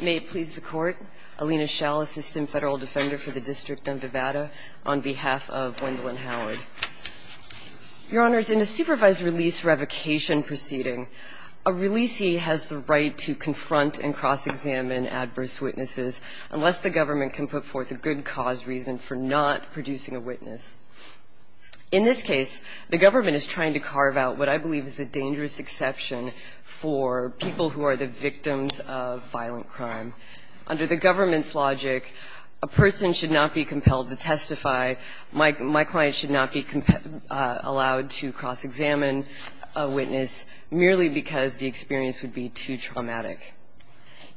May it please the Court, Alina Schall, Assistant Federal Defender for the District of Nevada, on behalf of Wendolyn Howard. Your Honors, in a supervised release revocation proceeding, a releasee has the right to confront and cross-examine adverse witnesses unless the government can put forth a good cause reason for not producing a witness. In this case, the government is trying to carve out what I believe is a dangerous exception for people who are the victims of violent crime. Under the government's logic, a person should not be compelled to testify. My client should not be allowed to cross-examine a witness merely because the experience would be too traumatic.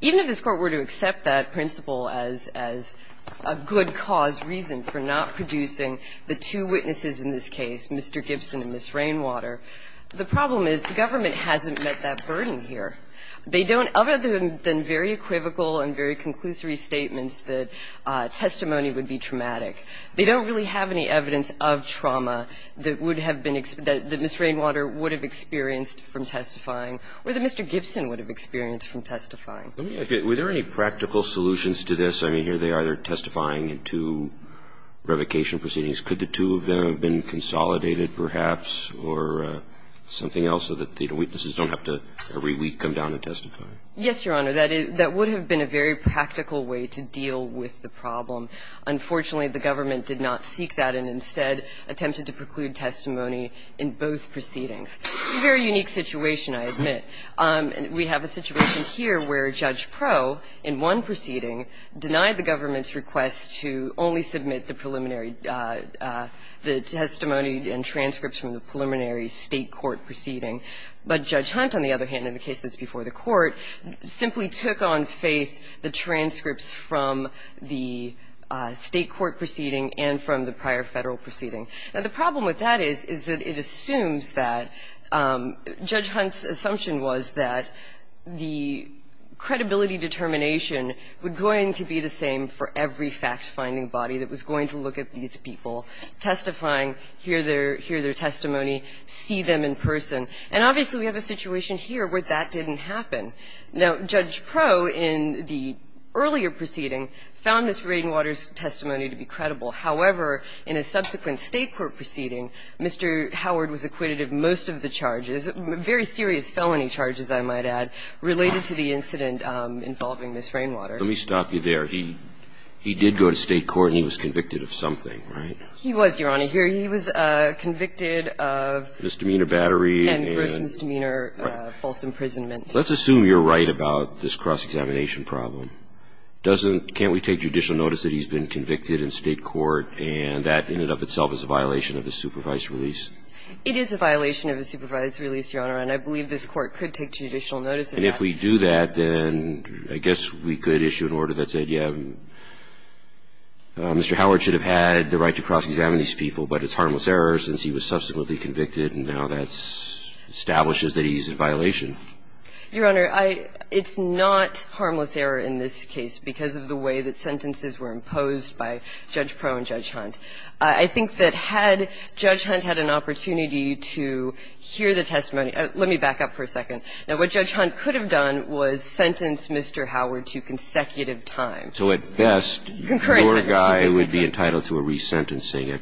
Even if this Court were to accept that principle as a good cause reason for not producing the two witnesses in this case, Mr. Gibson and Ms. Rainwater, the problem is the government hasn't met that burden here. They don't, other than very equivocal and very conclusory statements, that testimony would be traumatic. They don't really have any evidence of trauma that would have been, that Ms. Rainwater would have experienced from testifying or that Mr. Gibson would have experienced from testifying. Roberts, were there any practical solutions to this? I mean, here they are, they're testifying in two revocation proceedings. Could the two of them have been consolidated, perhaps, or something else so that the witnesses don't have to every week come down and testify? Yes, Your Honor. That would have been a very practical way to deal with the problem. Unfortunately, the government did not seek that and instead attempted to preclude testimony in both proceedings. It's a very unique situation, I admit. We have a situation here where Judge Proe, in one proceeding, denied the government's request to only submit the preliminary, the testimony and transcripts from the preliminary State court proceeding. But Judge Hunt, on the other hand, in the case that's before the Court, simply took on faith the transcripts from the State court proceeding and from the prior Federal proceeding. Now, the problem with that is, is that it assumes that Judge Hunt's assumption was that the credibility determination was going to be the same for every fact-finding body that was going to look at these people, testifying, hear their testimony, see them in person. And obviously, we have a situation here where that didn't happen. Now, Judge Proe, in the earlier proceeding, found Ms. Rainwater's testimony to be the same as the State court proceeding, Mr. Howard was acquitted of most of the charges, very serious felony charges, I might add, related to the incident involving Ms. Rainwater. Let me stop you there. He did go to State court and he was convicted of something, right? He was, Your Honor. Here he was convicted of misdemeanor battery and gross misdemeanor false imprisonment. Let's assume you're right about this cross-examination problem. Can't we take judicial notice that he's been convicted in State court and that ended up itself as a violation of the supervised release? It is a violation of the supervised release, Your Honor, and I believe this Court could take judicial notice of that. And if we do that, then I guess we could issue an order that said, yeah, Mr. Howard should have had the right to cross-examine these people, but it's harmless error since he was subsequently convicted and now that establishes that he's in violation. Your Honor, I – it's not harmless error in this case because of the way that sentences were imposed by Judge Pro and Judge Hunt. I think that had Judge Hunt had an opportunity to hear the testimony – let me back up for a second. Now, what Judge Hunt could have done was sentenced Mr. Howard to consecutive time. So at best, your guy would be entitled to a resentencing,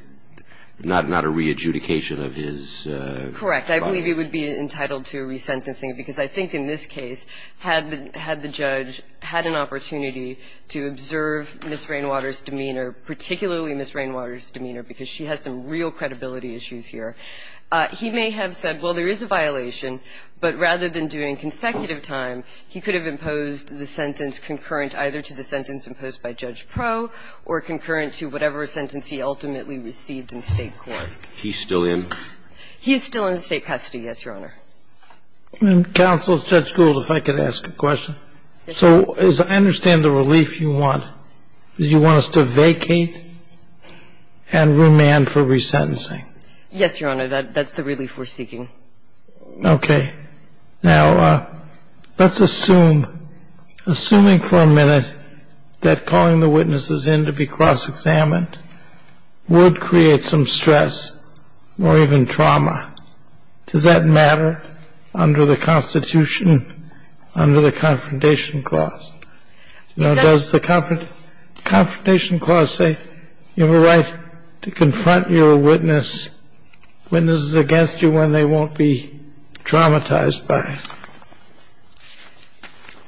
not a re-adjudication of his body. Correct. I believe he would be entitled to a resentencing because I think in this case, had the judge had an opportunity to observe Ms. Rainwater's demeanor, particularly Ms. Rainwater's demeanor, because she has some real credibility issues here, he may have said, well, there is a violation, but rather than doing consecutive time, he could have imposed the sentence concurrent either to the sentence imposed by Judge Pro or concurrent to whatever sentence he ultimately received in State court. I think he would have said, well, you know, he's still in the State custody. He's still in the State custody, yes, Your Honor. And counsel, Judge Gould, if I could ask a question. So as I understand the relief you want, is you want us to vacate and remand for resentencing? Yes, Your Honor. That's the relief we're seeking. Okay. Now, let's assume, assuming for a minute that calling the witnesses in to be cross-examined would create some stress or even trauma. Does that matter under the Constitution, under the Confrontation Clause? Now, does the Confrontation Clause say you have a right to confront your witness, witnesses against you when they won't be traumatized by it?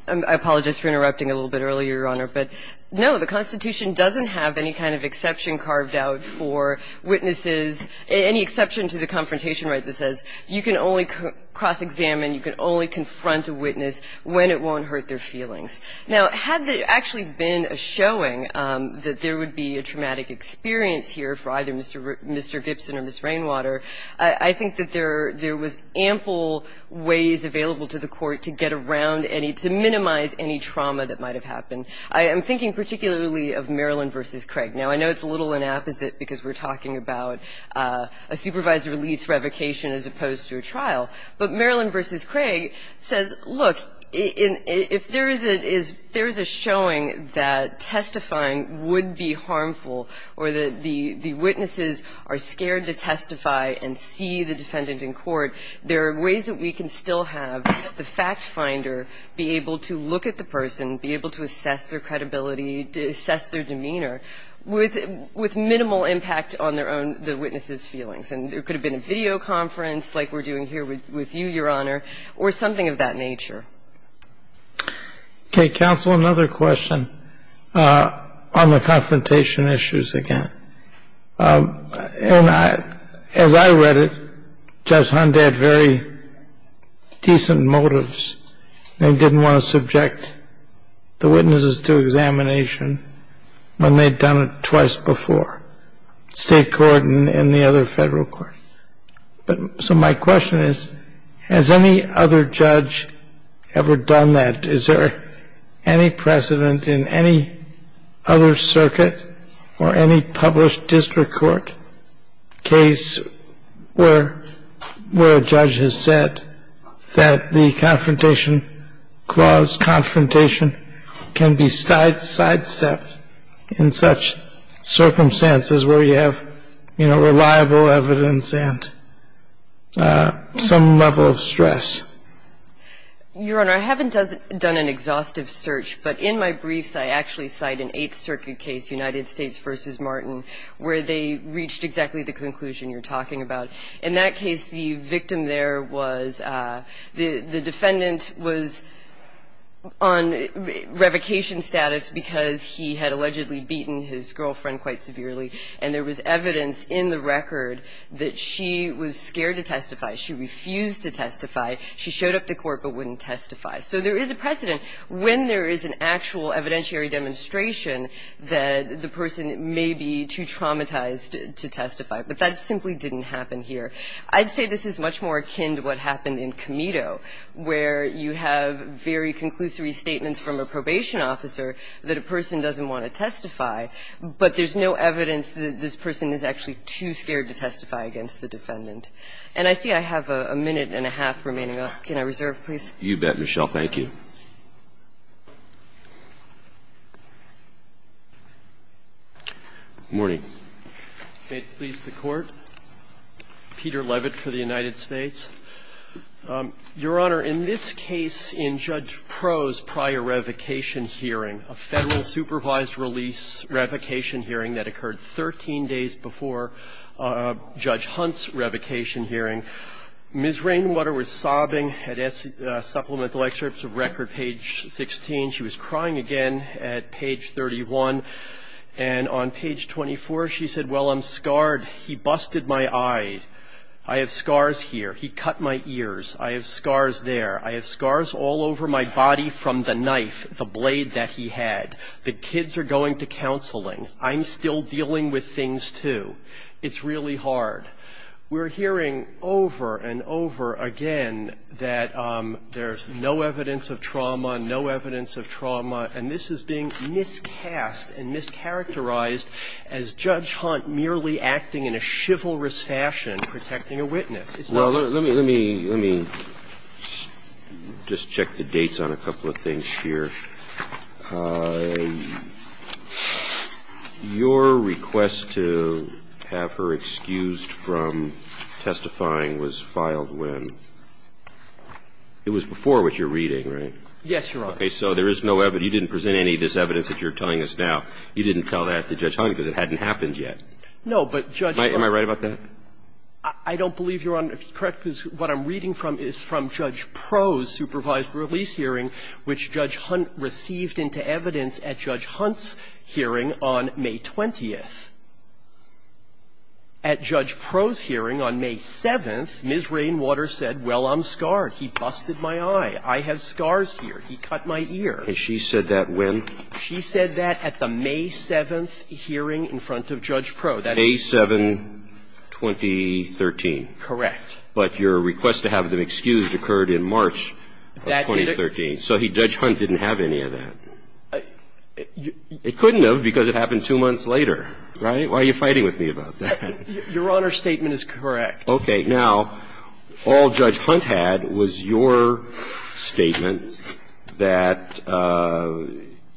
I apologize for interrupting a little bit earlier, Your Honor. But, no, the Constitution doesn't have any kind of exception carved out for witnesses any exception to the Confrontation Right that says you can only cross-examine, you can only confront a witness when it won't hurt their feelings. Now, had there actually been a showing that there would be a traumatic experience here for either Mr. Gibson or Ms. Rainwater, I think that there was ample ways available to the Court to get around any, to minimize any trauma that might have happened. I am thinking particularly of Maryland v. Craig. Now, I know it's a little inapposite because we're talking about a supervised release revocation as opposed to a trial. But Maryland v. Craig says, look, if there is a showing that testifying would be a good thing, the witnesses are scared to testify and see the defendant in court. There are ways that we can still have the fact finder be able to look at the person, be able to assess their credibility, assess their demeanor with minimal impact on their own, the witness's feelings. And there could have been a videoconference like we're doing here with you, Your Honor, or something of that nature. Okay, counsel, another question on the confrontation issues again. And as I read it, Judge Hunt had very decent motives. They didn't want to subject the witnesses to examination when they'd done it twice before, state court and the other federal court. But so my question is, has any other judge ever done that? Is there any precedent in any other circuit or any published district court case where a judge has said that the confrontation clause, confrontation, can be sidestepped in such circumstances where you have, you know, reliable evidence and some level of stress? Your Honor, I haven't done an exhaustive search, but in my briefs I actually cite an Eighth Circuit case, United States v. Martin, where they reached exactly the conclusion you're talking about. In that case, the victim there was the defendant was on revocation status because he had allegedly beaten his girlfriend quite severely, and there was evidence in the record that she was scared to testify. She refused to testify. She showed up to court but wouldn't testify. So there is a precedent when there is an actual evidentiary demonstration that the person may be too traumatized to testify. But that simply didn't happen here. I'd say this is much more akin to what happened in Comito, where you have very conclusory statements from a probation officer that a person doesn't want to testify, but there's no evidence that this person is actually too scared to testify against the defendant. And I see I have a minute and a half remaining. Can I reserve, please? You bet, Michelle. Thank you. Good morning. May it please the Court. Peter Levitt for the United States. Your Honor, in this case, in Judge Proh's prior revocation hearing, a Federal supervised release revocation hearing that occurred 13 days before Judge Hunt's revocation hearing, Ms. Rainwater was sobbing at supplemental excerpts of record, page 16. She was crying again at page 31. And on page 24, she said, well, I'm scarred. He busted my eye. I have scars here. He cut my ears. I have scars there. I have scars all over my body from the knife, the blade that he had. The kids are going to counseling. I'm still dealing with things, too. It's really hard. We're hearing over and over again that there's no evidence of trauma, no evidence of trauma, and this is being miscast and mischaracterized as Judge Hunt merely acting in a chivalrous fashion, protecting a witness. Well, let me just check the dates on a couple of things here. Your request to have her excused from testifying was filed when? It was before what you're reading, right? Yes, Your Honor. Okay. So there is no evidence. You didn't present any of this evidence that you're telling us now. You didn't tell that to Judge Hunt because it hadn't happened yet. No, but Judge Hunt Am I right about that? I don't believe you're correct, because what I'm reading from is from Judge Proh's supervised release hearing, which Judge Hunt received into evidence at Judge Hunt's hearing on May 20th. At Judge Proh's hearing on May 7th, Ms. Rainwater said, well, I'm scarred. He busted my eye. I have scars here. He cut my ear. And she said that when? She said that at the May 7th hearing in front of Judge Proh. May 7, 2013. Correct. But your request to have them excused occurred in March of 2013. So Judge Hunt didn't have any of that. It couldn't have because it happened two months later, right? Why are you fighting with me about that? Your Honor's statement is correct. Okay. Now, all Judge Hunt had was your statement that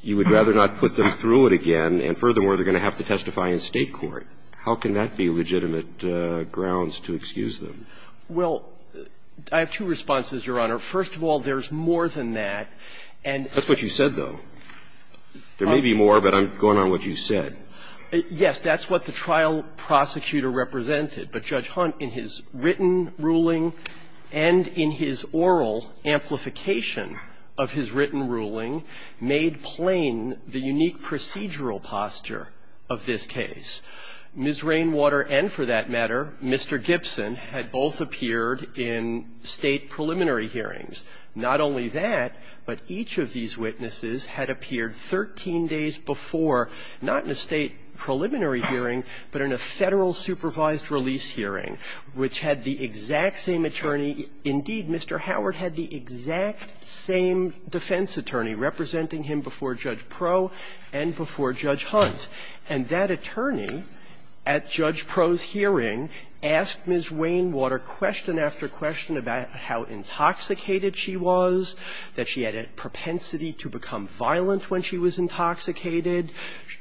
you would rather not put them through it again, and furthermore, they're going to have to testify in State court. How can that be legitimate grounds to excuse them? Well, I have two responses, Your Honor. First of all, there's more than that. And so you said, though, there may be more, but I'm going on what you said. Yes. That's what the trial prosecutor represented. But Judge Hunt, in his written ruling and in his oral amplification of his written ruling, made plain the unique procedural posture of this case. Ms. Rainwater and, for that matter, Mr. Gibson had both appeared in State preliminary hearings. Not only that, but each of these witnesses had appeared 13 days before, not in a State preliminary hearing, but in a Federal supervised release hearing, which had the exact same attorney. Indeed, Mr. Howard had the exact same defense attorney representing him before Judge Pro and before Judge Hunt. And that attorney, at Judge Pro's hearing, asked Ms. Rainwater question after question about how intoxicated she was, that she had a propensity to become violent when she was intoxicated.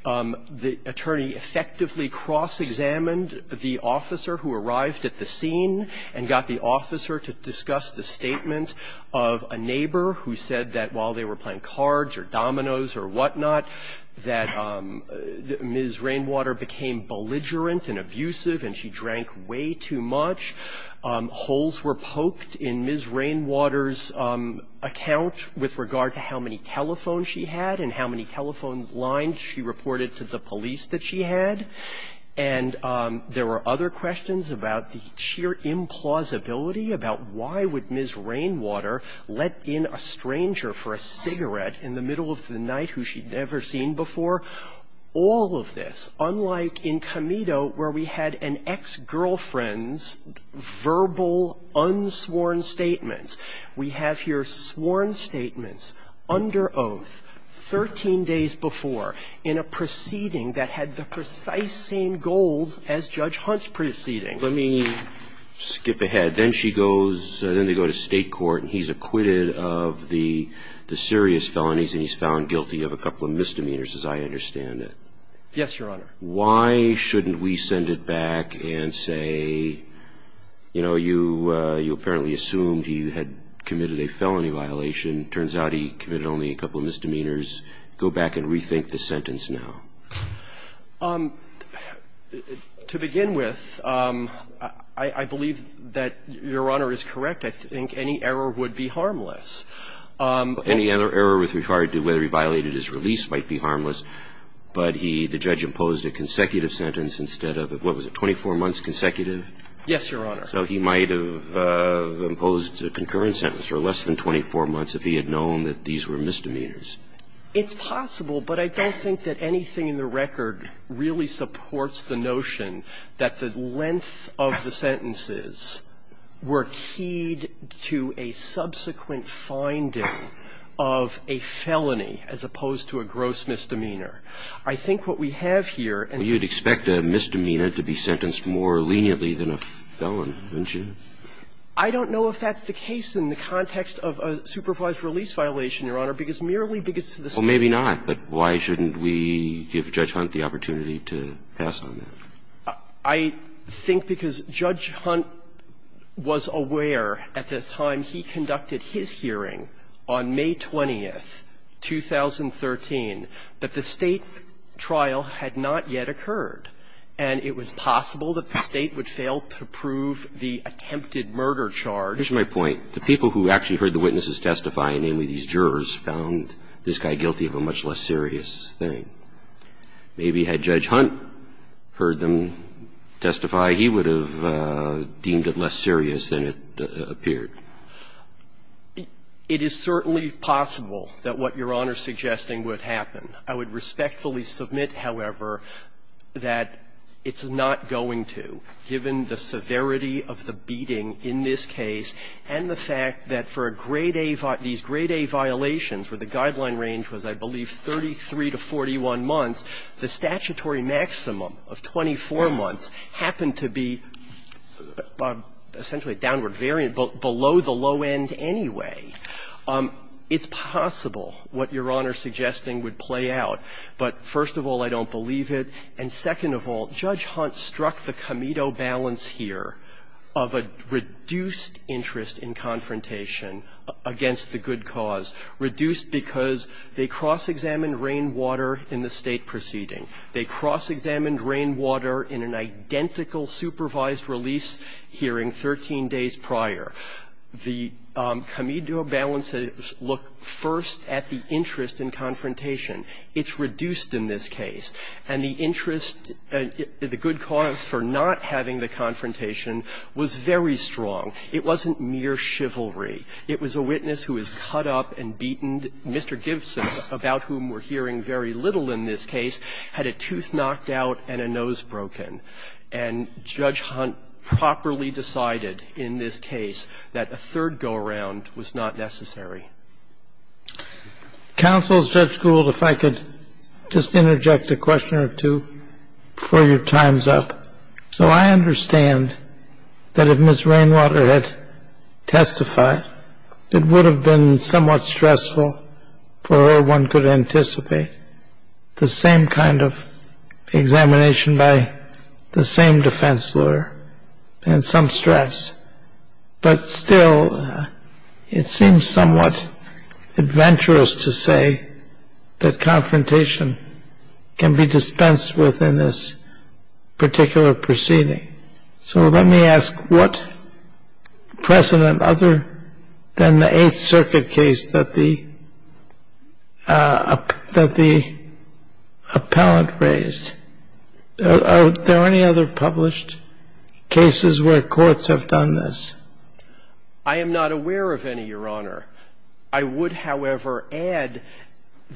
The attorney effectively cross-examined the officer who arrived at the scene and got the officer to discuss the statement of a neighbor who said that while they were playing cards or dominoes or whatnot, that Ms. Rainwater became belligerent and abusive and she drank way too much. Holes were poked in Ms. Rainwater's account with regard to how many telephones she had and how many telephone lines she reported to the police that she had. And there were other questions about the sheer implausibility about why would Ms. Rainwater become belligerent in the middle of the night who she'd never seen before? All of this, unlike in Comito where we had an ex-girlfriend's verbal unsworn statements. We have here sworn statements under oath 13 days before in a proceeding that had the precise same goals as Judge Hunt's proceeding. Let me skip ahead. Then she goes, then they go to State court and he's acquitted of the serious felonies and he's found guilty of a couple of misdemeanors, as I understand it. Yes, Your Honor. Why shouldn't we send it back and say, you know, you apparently assumed he had committed a felony violation, turns out he committed only a couple of misdemeanors. Go back and rethink the sentence now. To begin with, I believe that Your Honor is correct. I think any error would be harmless. Any other error with regard to whether he violated his release might be harmless, but he, the judge, imposed a consecutive sentence instead of a, what was it, 24 months consecutive? Yes, Your Honor. So he might have imposed a concurrent sentence or less than 24 months if he had known that these were misdemeanors. It's possible, but I don't think that anything in the record really supports the notion that the length of the sentences were keyed to a subsequent finding of a felony as opposed to a gross misdemeanor. I think what we have here and the fact that he's found guilty of a felony violation is not a bad thing. I don't know if that's the case in the context of a supervised release violation, Your Honor, because merely because of the sentence. Well, maybe not, but why shouldn't we give Judge Hunt the opportunity to pass on that? I think because Judge Hunt was aware at the time he conducted his hearing on May 20th, 2013, that the State trial had not yet occurred, and it was possible that the State would fail to prove the attempted murder charge. Here's my point. The people who actually heard the witnesses testify, namely these jurors, found this guy guilty of a much less serious thing. Maybe had Judge Hunt heard them testify, he would have deemed it less serious than it appeared. It is certainly possible that what Your Honor is suggesting would happen. I would respectfully submit, however, that it's not going to, given the severity of the beating in this case and the fact that for a grade-A, these grade-A violations where the guideline range was, I believe, 33 to 41 months, the statutory maximum of 24 months happened to be essentially a downward variant, below the low end anyway. It's possible what Your Honor's suggesting would play out. But first of all, I don't believe it. And second of all, Judge Hunt struck the comito balance here of a reduced interest in confrontation against the good cause, reduced because they cross-examined rainwater in the State proceeding. They cross-examined rainwater in an identical supervised release hearing 13 days prior. The comito balances look first at the interest in confrontation. It's reduced in this case. And the interest, the good cause for not having the confrontation was very strong. It wasn't mere chivalry. It was a witness who was cut up and beaten. Mr. Gibson, about whom we're hearing very little in this case, had a tooth knocked out and a nose broken. And Judge Hunt properly decided in this case that a third go-around was not necessary. Counsel, Judge Gould, if I could just interject a question or two before your time's up. So I understand that if Ms. Rainwater had testified, it would have been somewhat stressful for her, one could anticipate, the same kind of examination by the same defense lawyer and some stress. But still, it seems somewhat adventurous to say that confrontation can be dispensed with in this particular proceeding. So let me ask what precedent other than the Eighth Circuit case that the appellant raised? Are there any other published cases where courts have done this? I am not aware of any, Your Honor. I would, however, add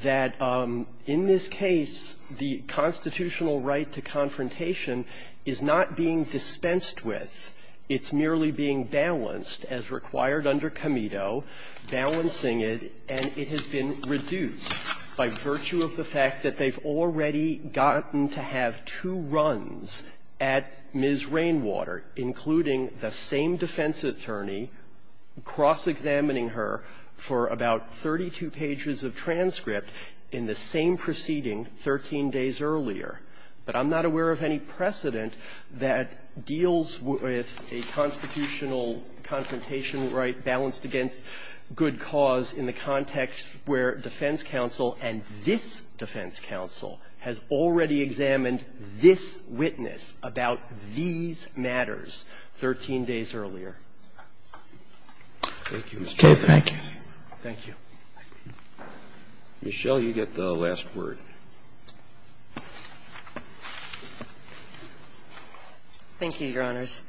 that in this case, the constitutional right to confrontation is not being dispensed with. It's merely being balanced, as required under Comito, balancing it, and it has been reduced by virtue of the fact that they've already gotten to have two runs at Ms. Rainwater, including the same defense attorney cross-examining her for about 32 pages of transcript in the same proceeding 13 days earlier. But I'm not aware of any precedent that deals with a constitutional confrontation right balanced against good cause in the context where defense counsel and this defense counsel has already examined this witness about these matters 13 days earlier. Thank you, Mr. Chaffetz. Thank you. Thank you. Michelle, you get the last word. Thank you, Your Honors.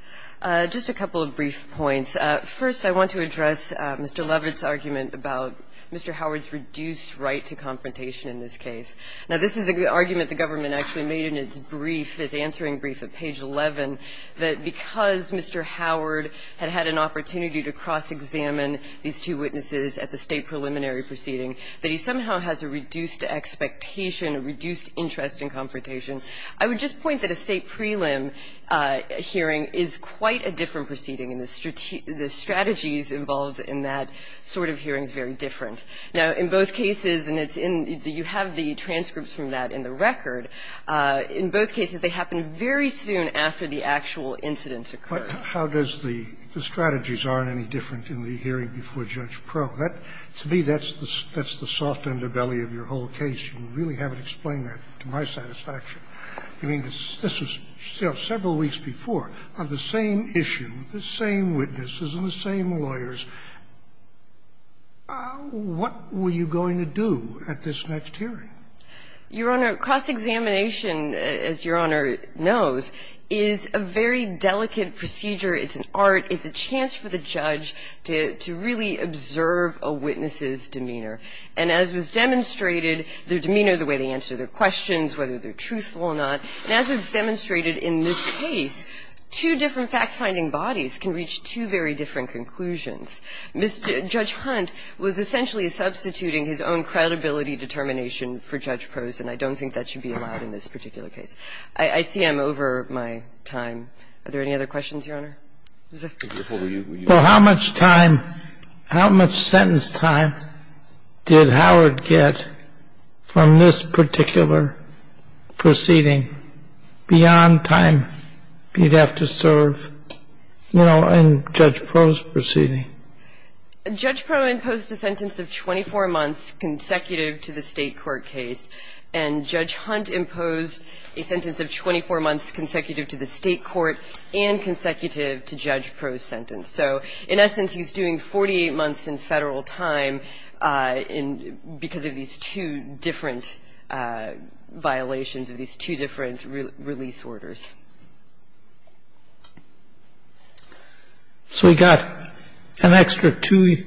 Just a couple of brief points. First, I want to address Mr. Lovett's argument about Mr. Howard's reduced right to confrontation in this case. Now, this is an argument the government actually made in its brief, its answering brief at page 11, that because Mr. Howard had had an opportunity to cross-examine these two witnesses at the State preliminary proceeding, that he somehow has a reduced expectation, a reduced interest in confrontation. I would just point that a State prelim hearing is quite a different proceeding and the strategies involved in that sort of hearing is very different. Now, in both cases, and it's in the you have the transcripts from that in the record, in both cases they happen very soon after the actual incidents occur. How does the strategies aren't any different in the hearing before Judge Pro? To me, that's the soft underbelly of your whole case. You really haven't explained that to my satisfaction. I mean, this was several weeks before. On the same issue, the same witnesses and the same lawyers, what were you going to do at this next hearing? Your Honor, cross-examination, as Your Honor knows, is a very delicate procedure. It's an art. It's a chance for the judge to really observe a witness's demeanor. And as was demonstrated, their demeanor, the way they answer their questions, whether they're truthful or not, and as was demonstrated in this case, two different fact-finding bodies can reach two very different conclusions. Judge Hunt was essentially substituting his own credibility determination for Judge Pro's, and I don't think that should be allowed in this particular case. I see I'm over my time. Are there any other questions, Your Honor? Well, how much time, how much sentence time did Howard get from this particular proceeding beyond time he'd have to serve, you know, in Judge Pro's proceeding? Judge Pro imposed a sentence of 24 months consecutive to the State court case, and Judge Hunt imposed a sentence of 24 months consecutive to the State court and consecutive to Judge Pro's sentence. So in essence, he's doing 48 months in Federal time in – because of these two different violations of these two different release orders. So he got an extra two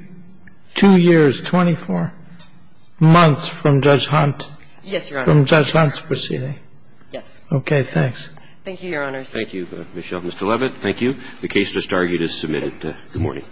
years, 24 months from Judge Hunt? Yes, Your Honor. From Judge Hunt's proceeding? Yes. Okay. Thanks. Thank you, Your Honors. Thank you, Michelle. Mr. Levitt, thank you. The case just argued is submitted. Good morning.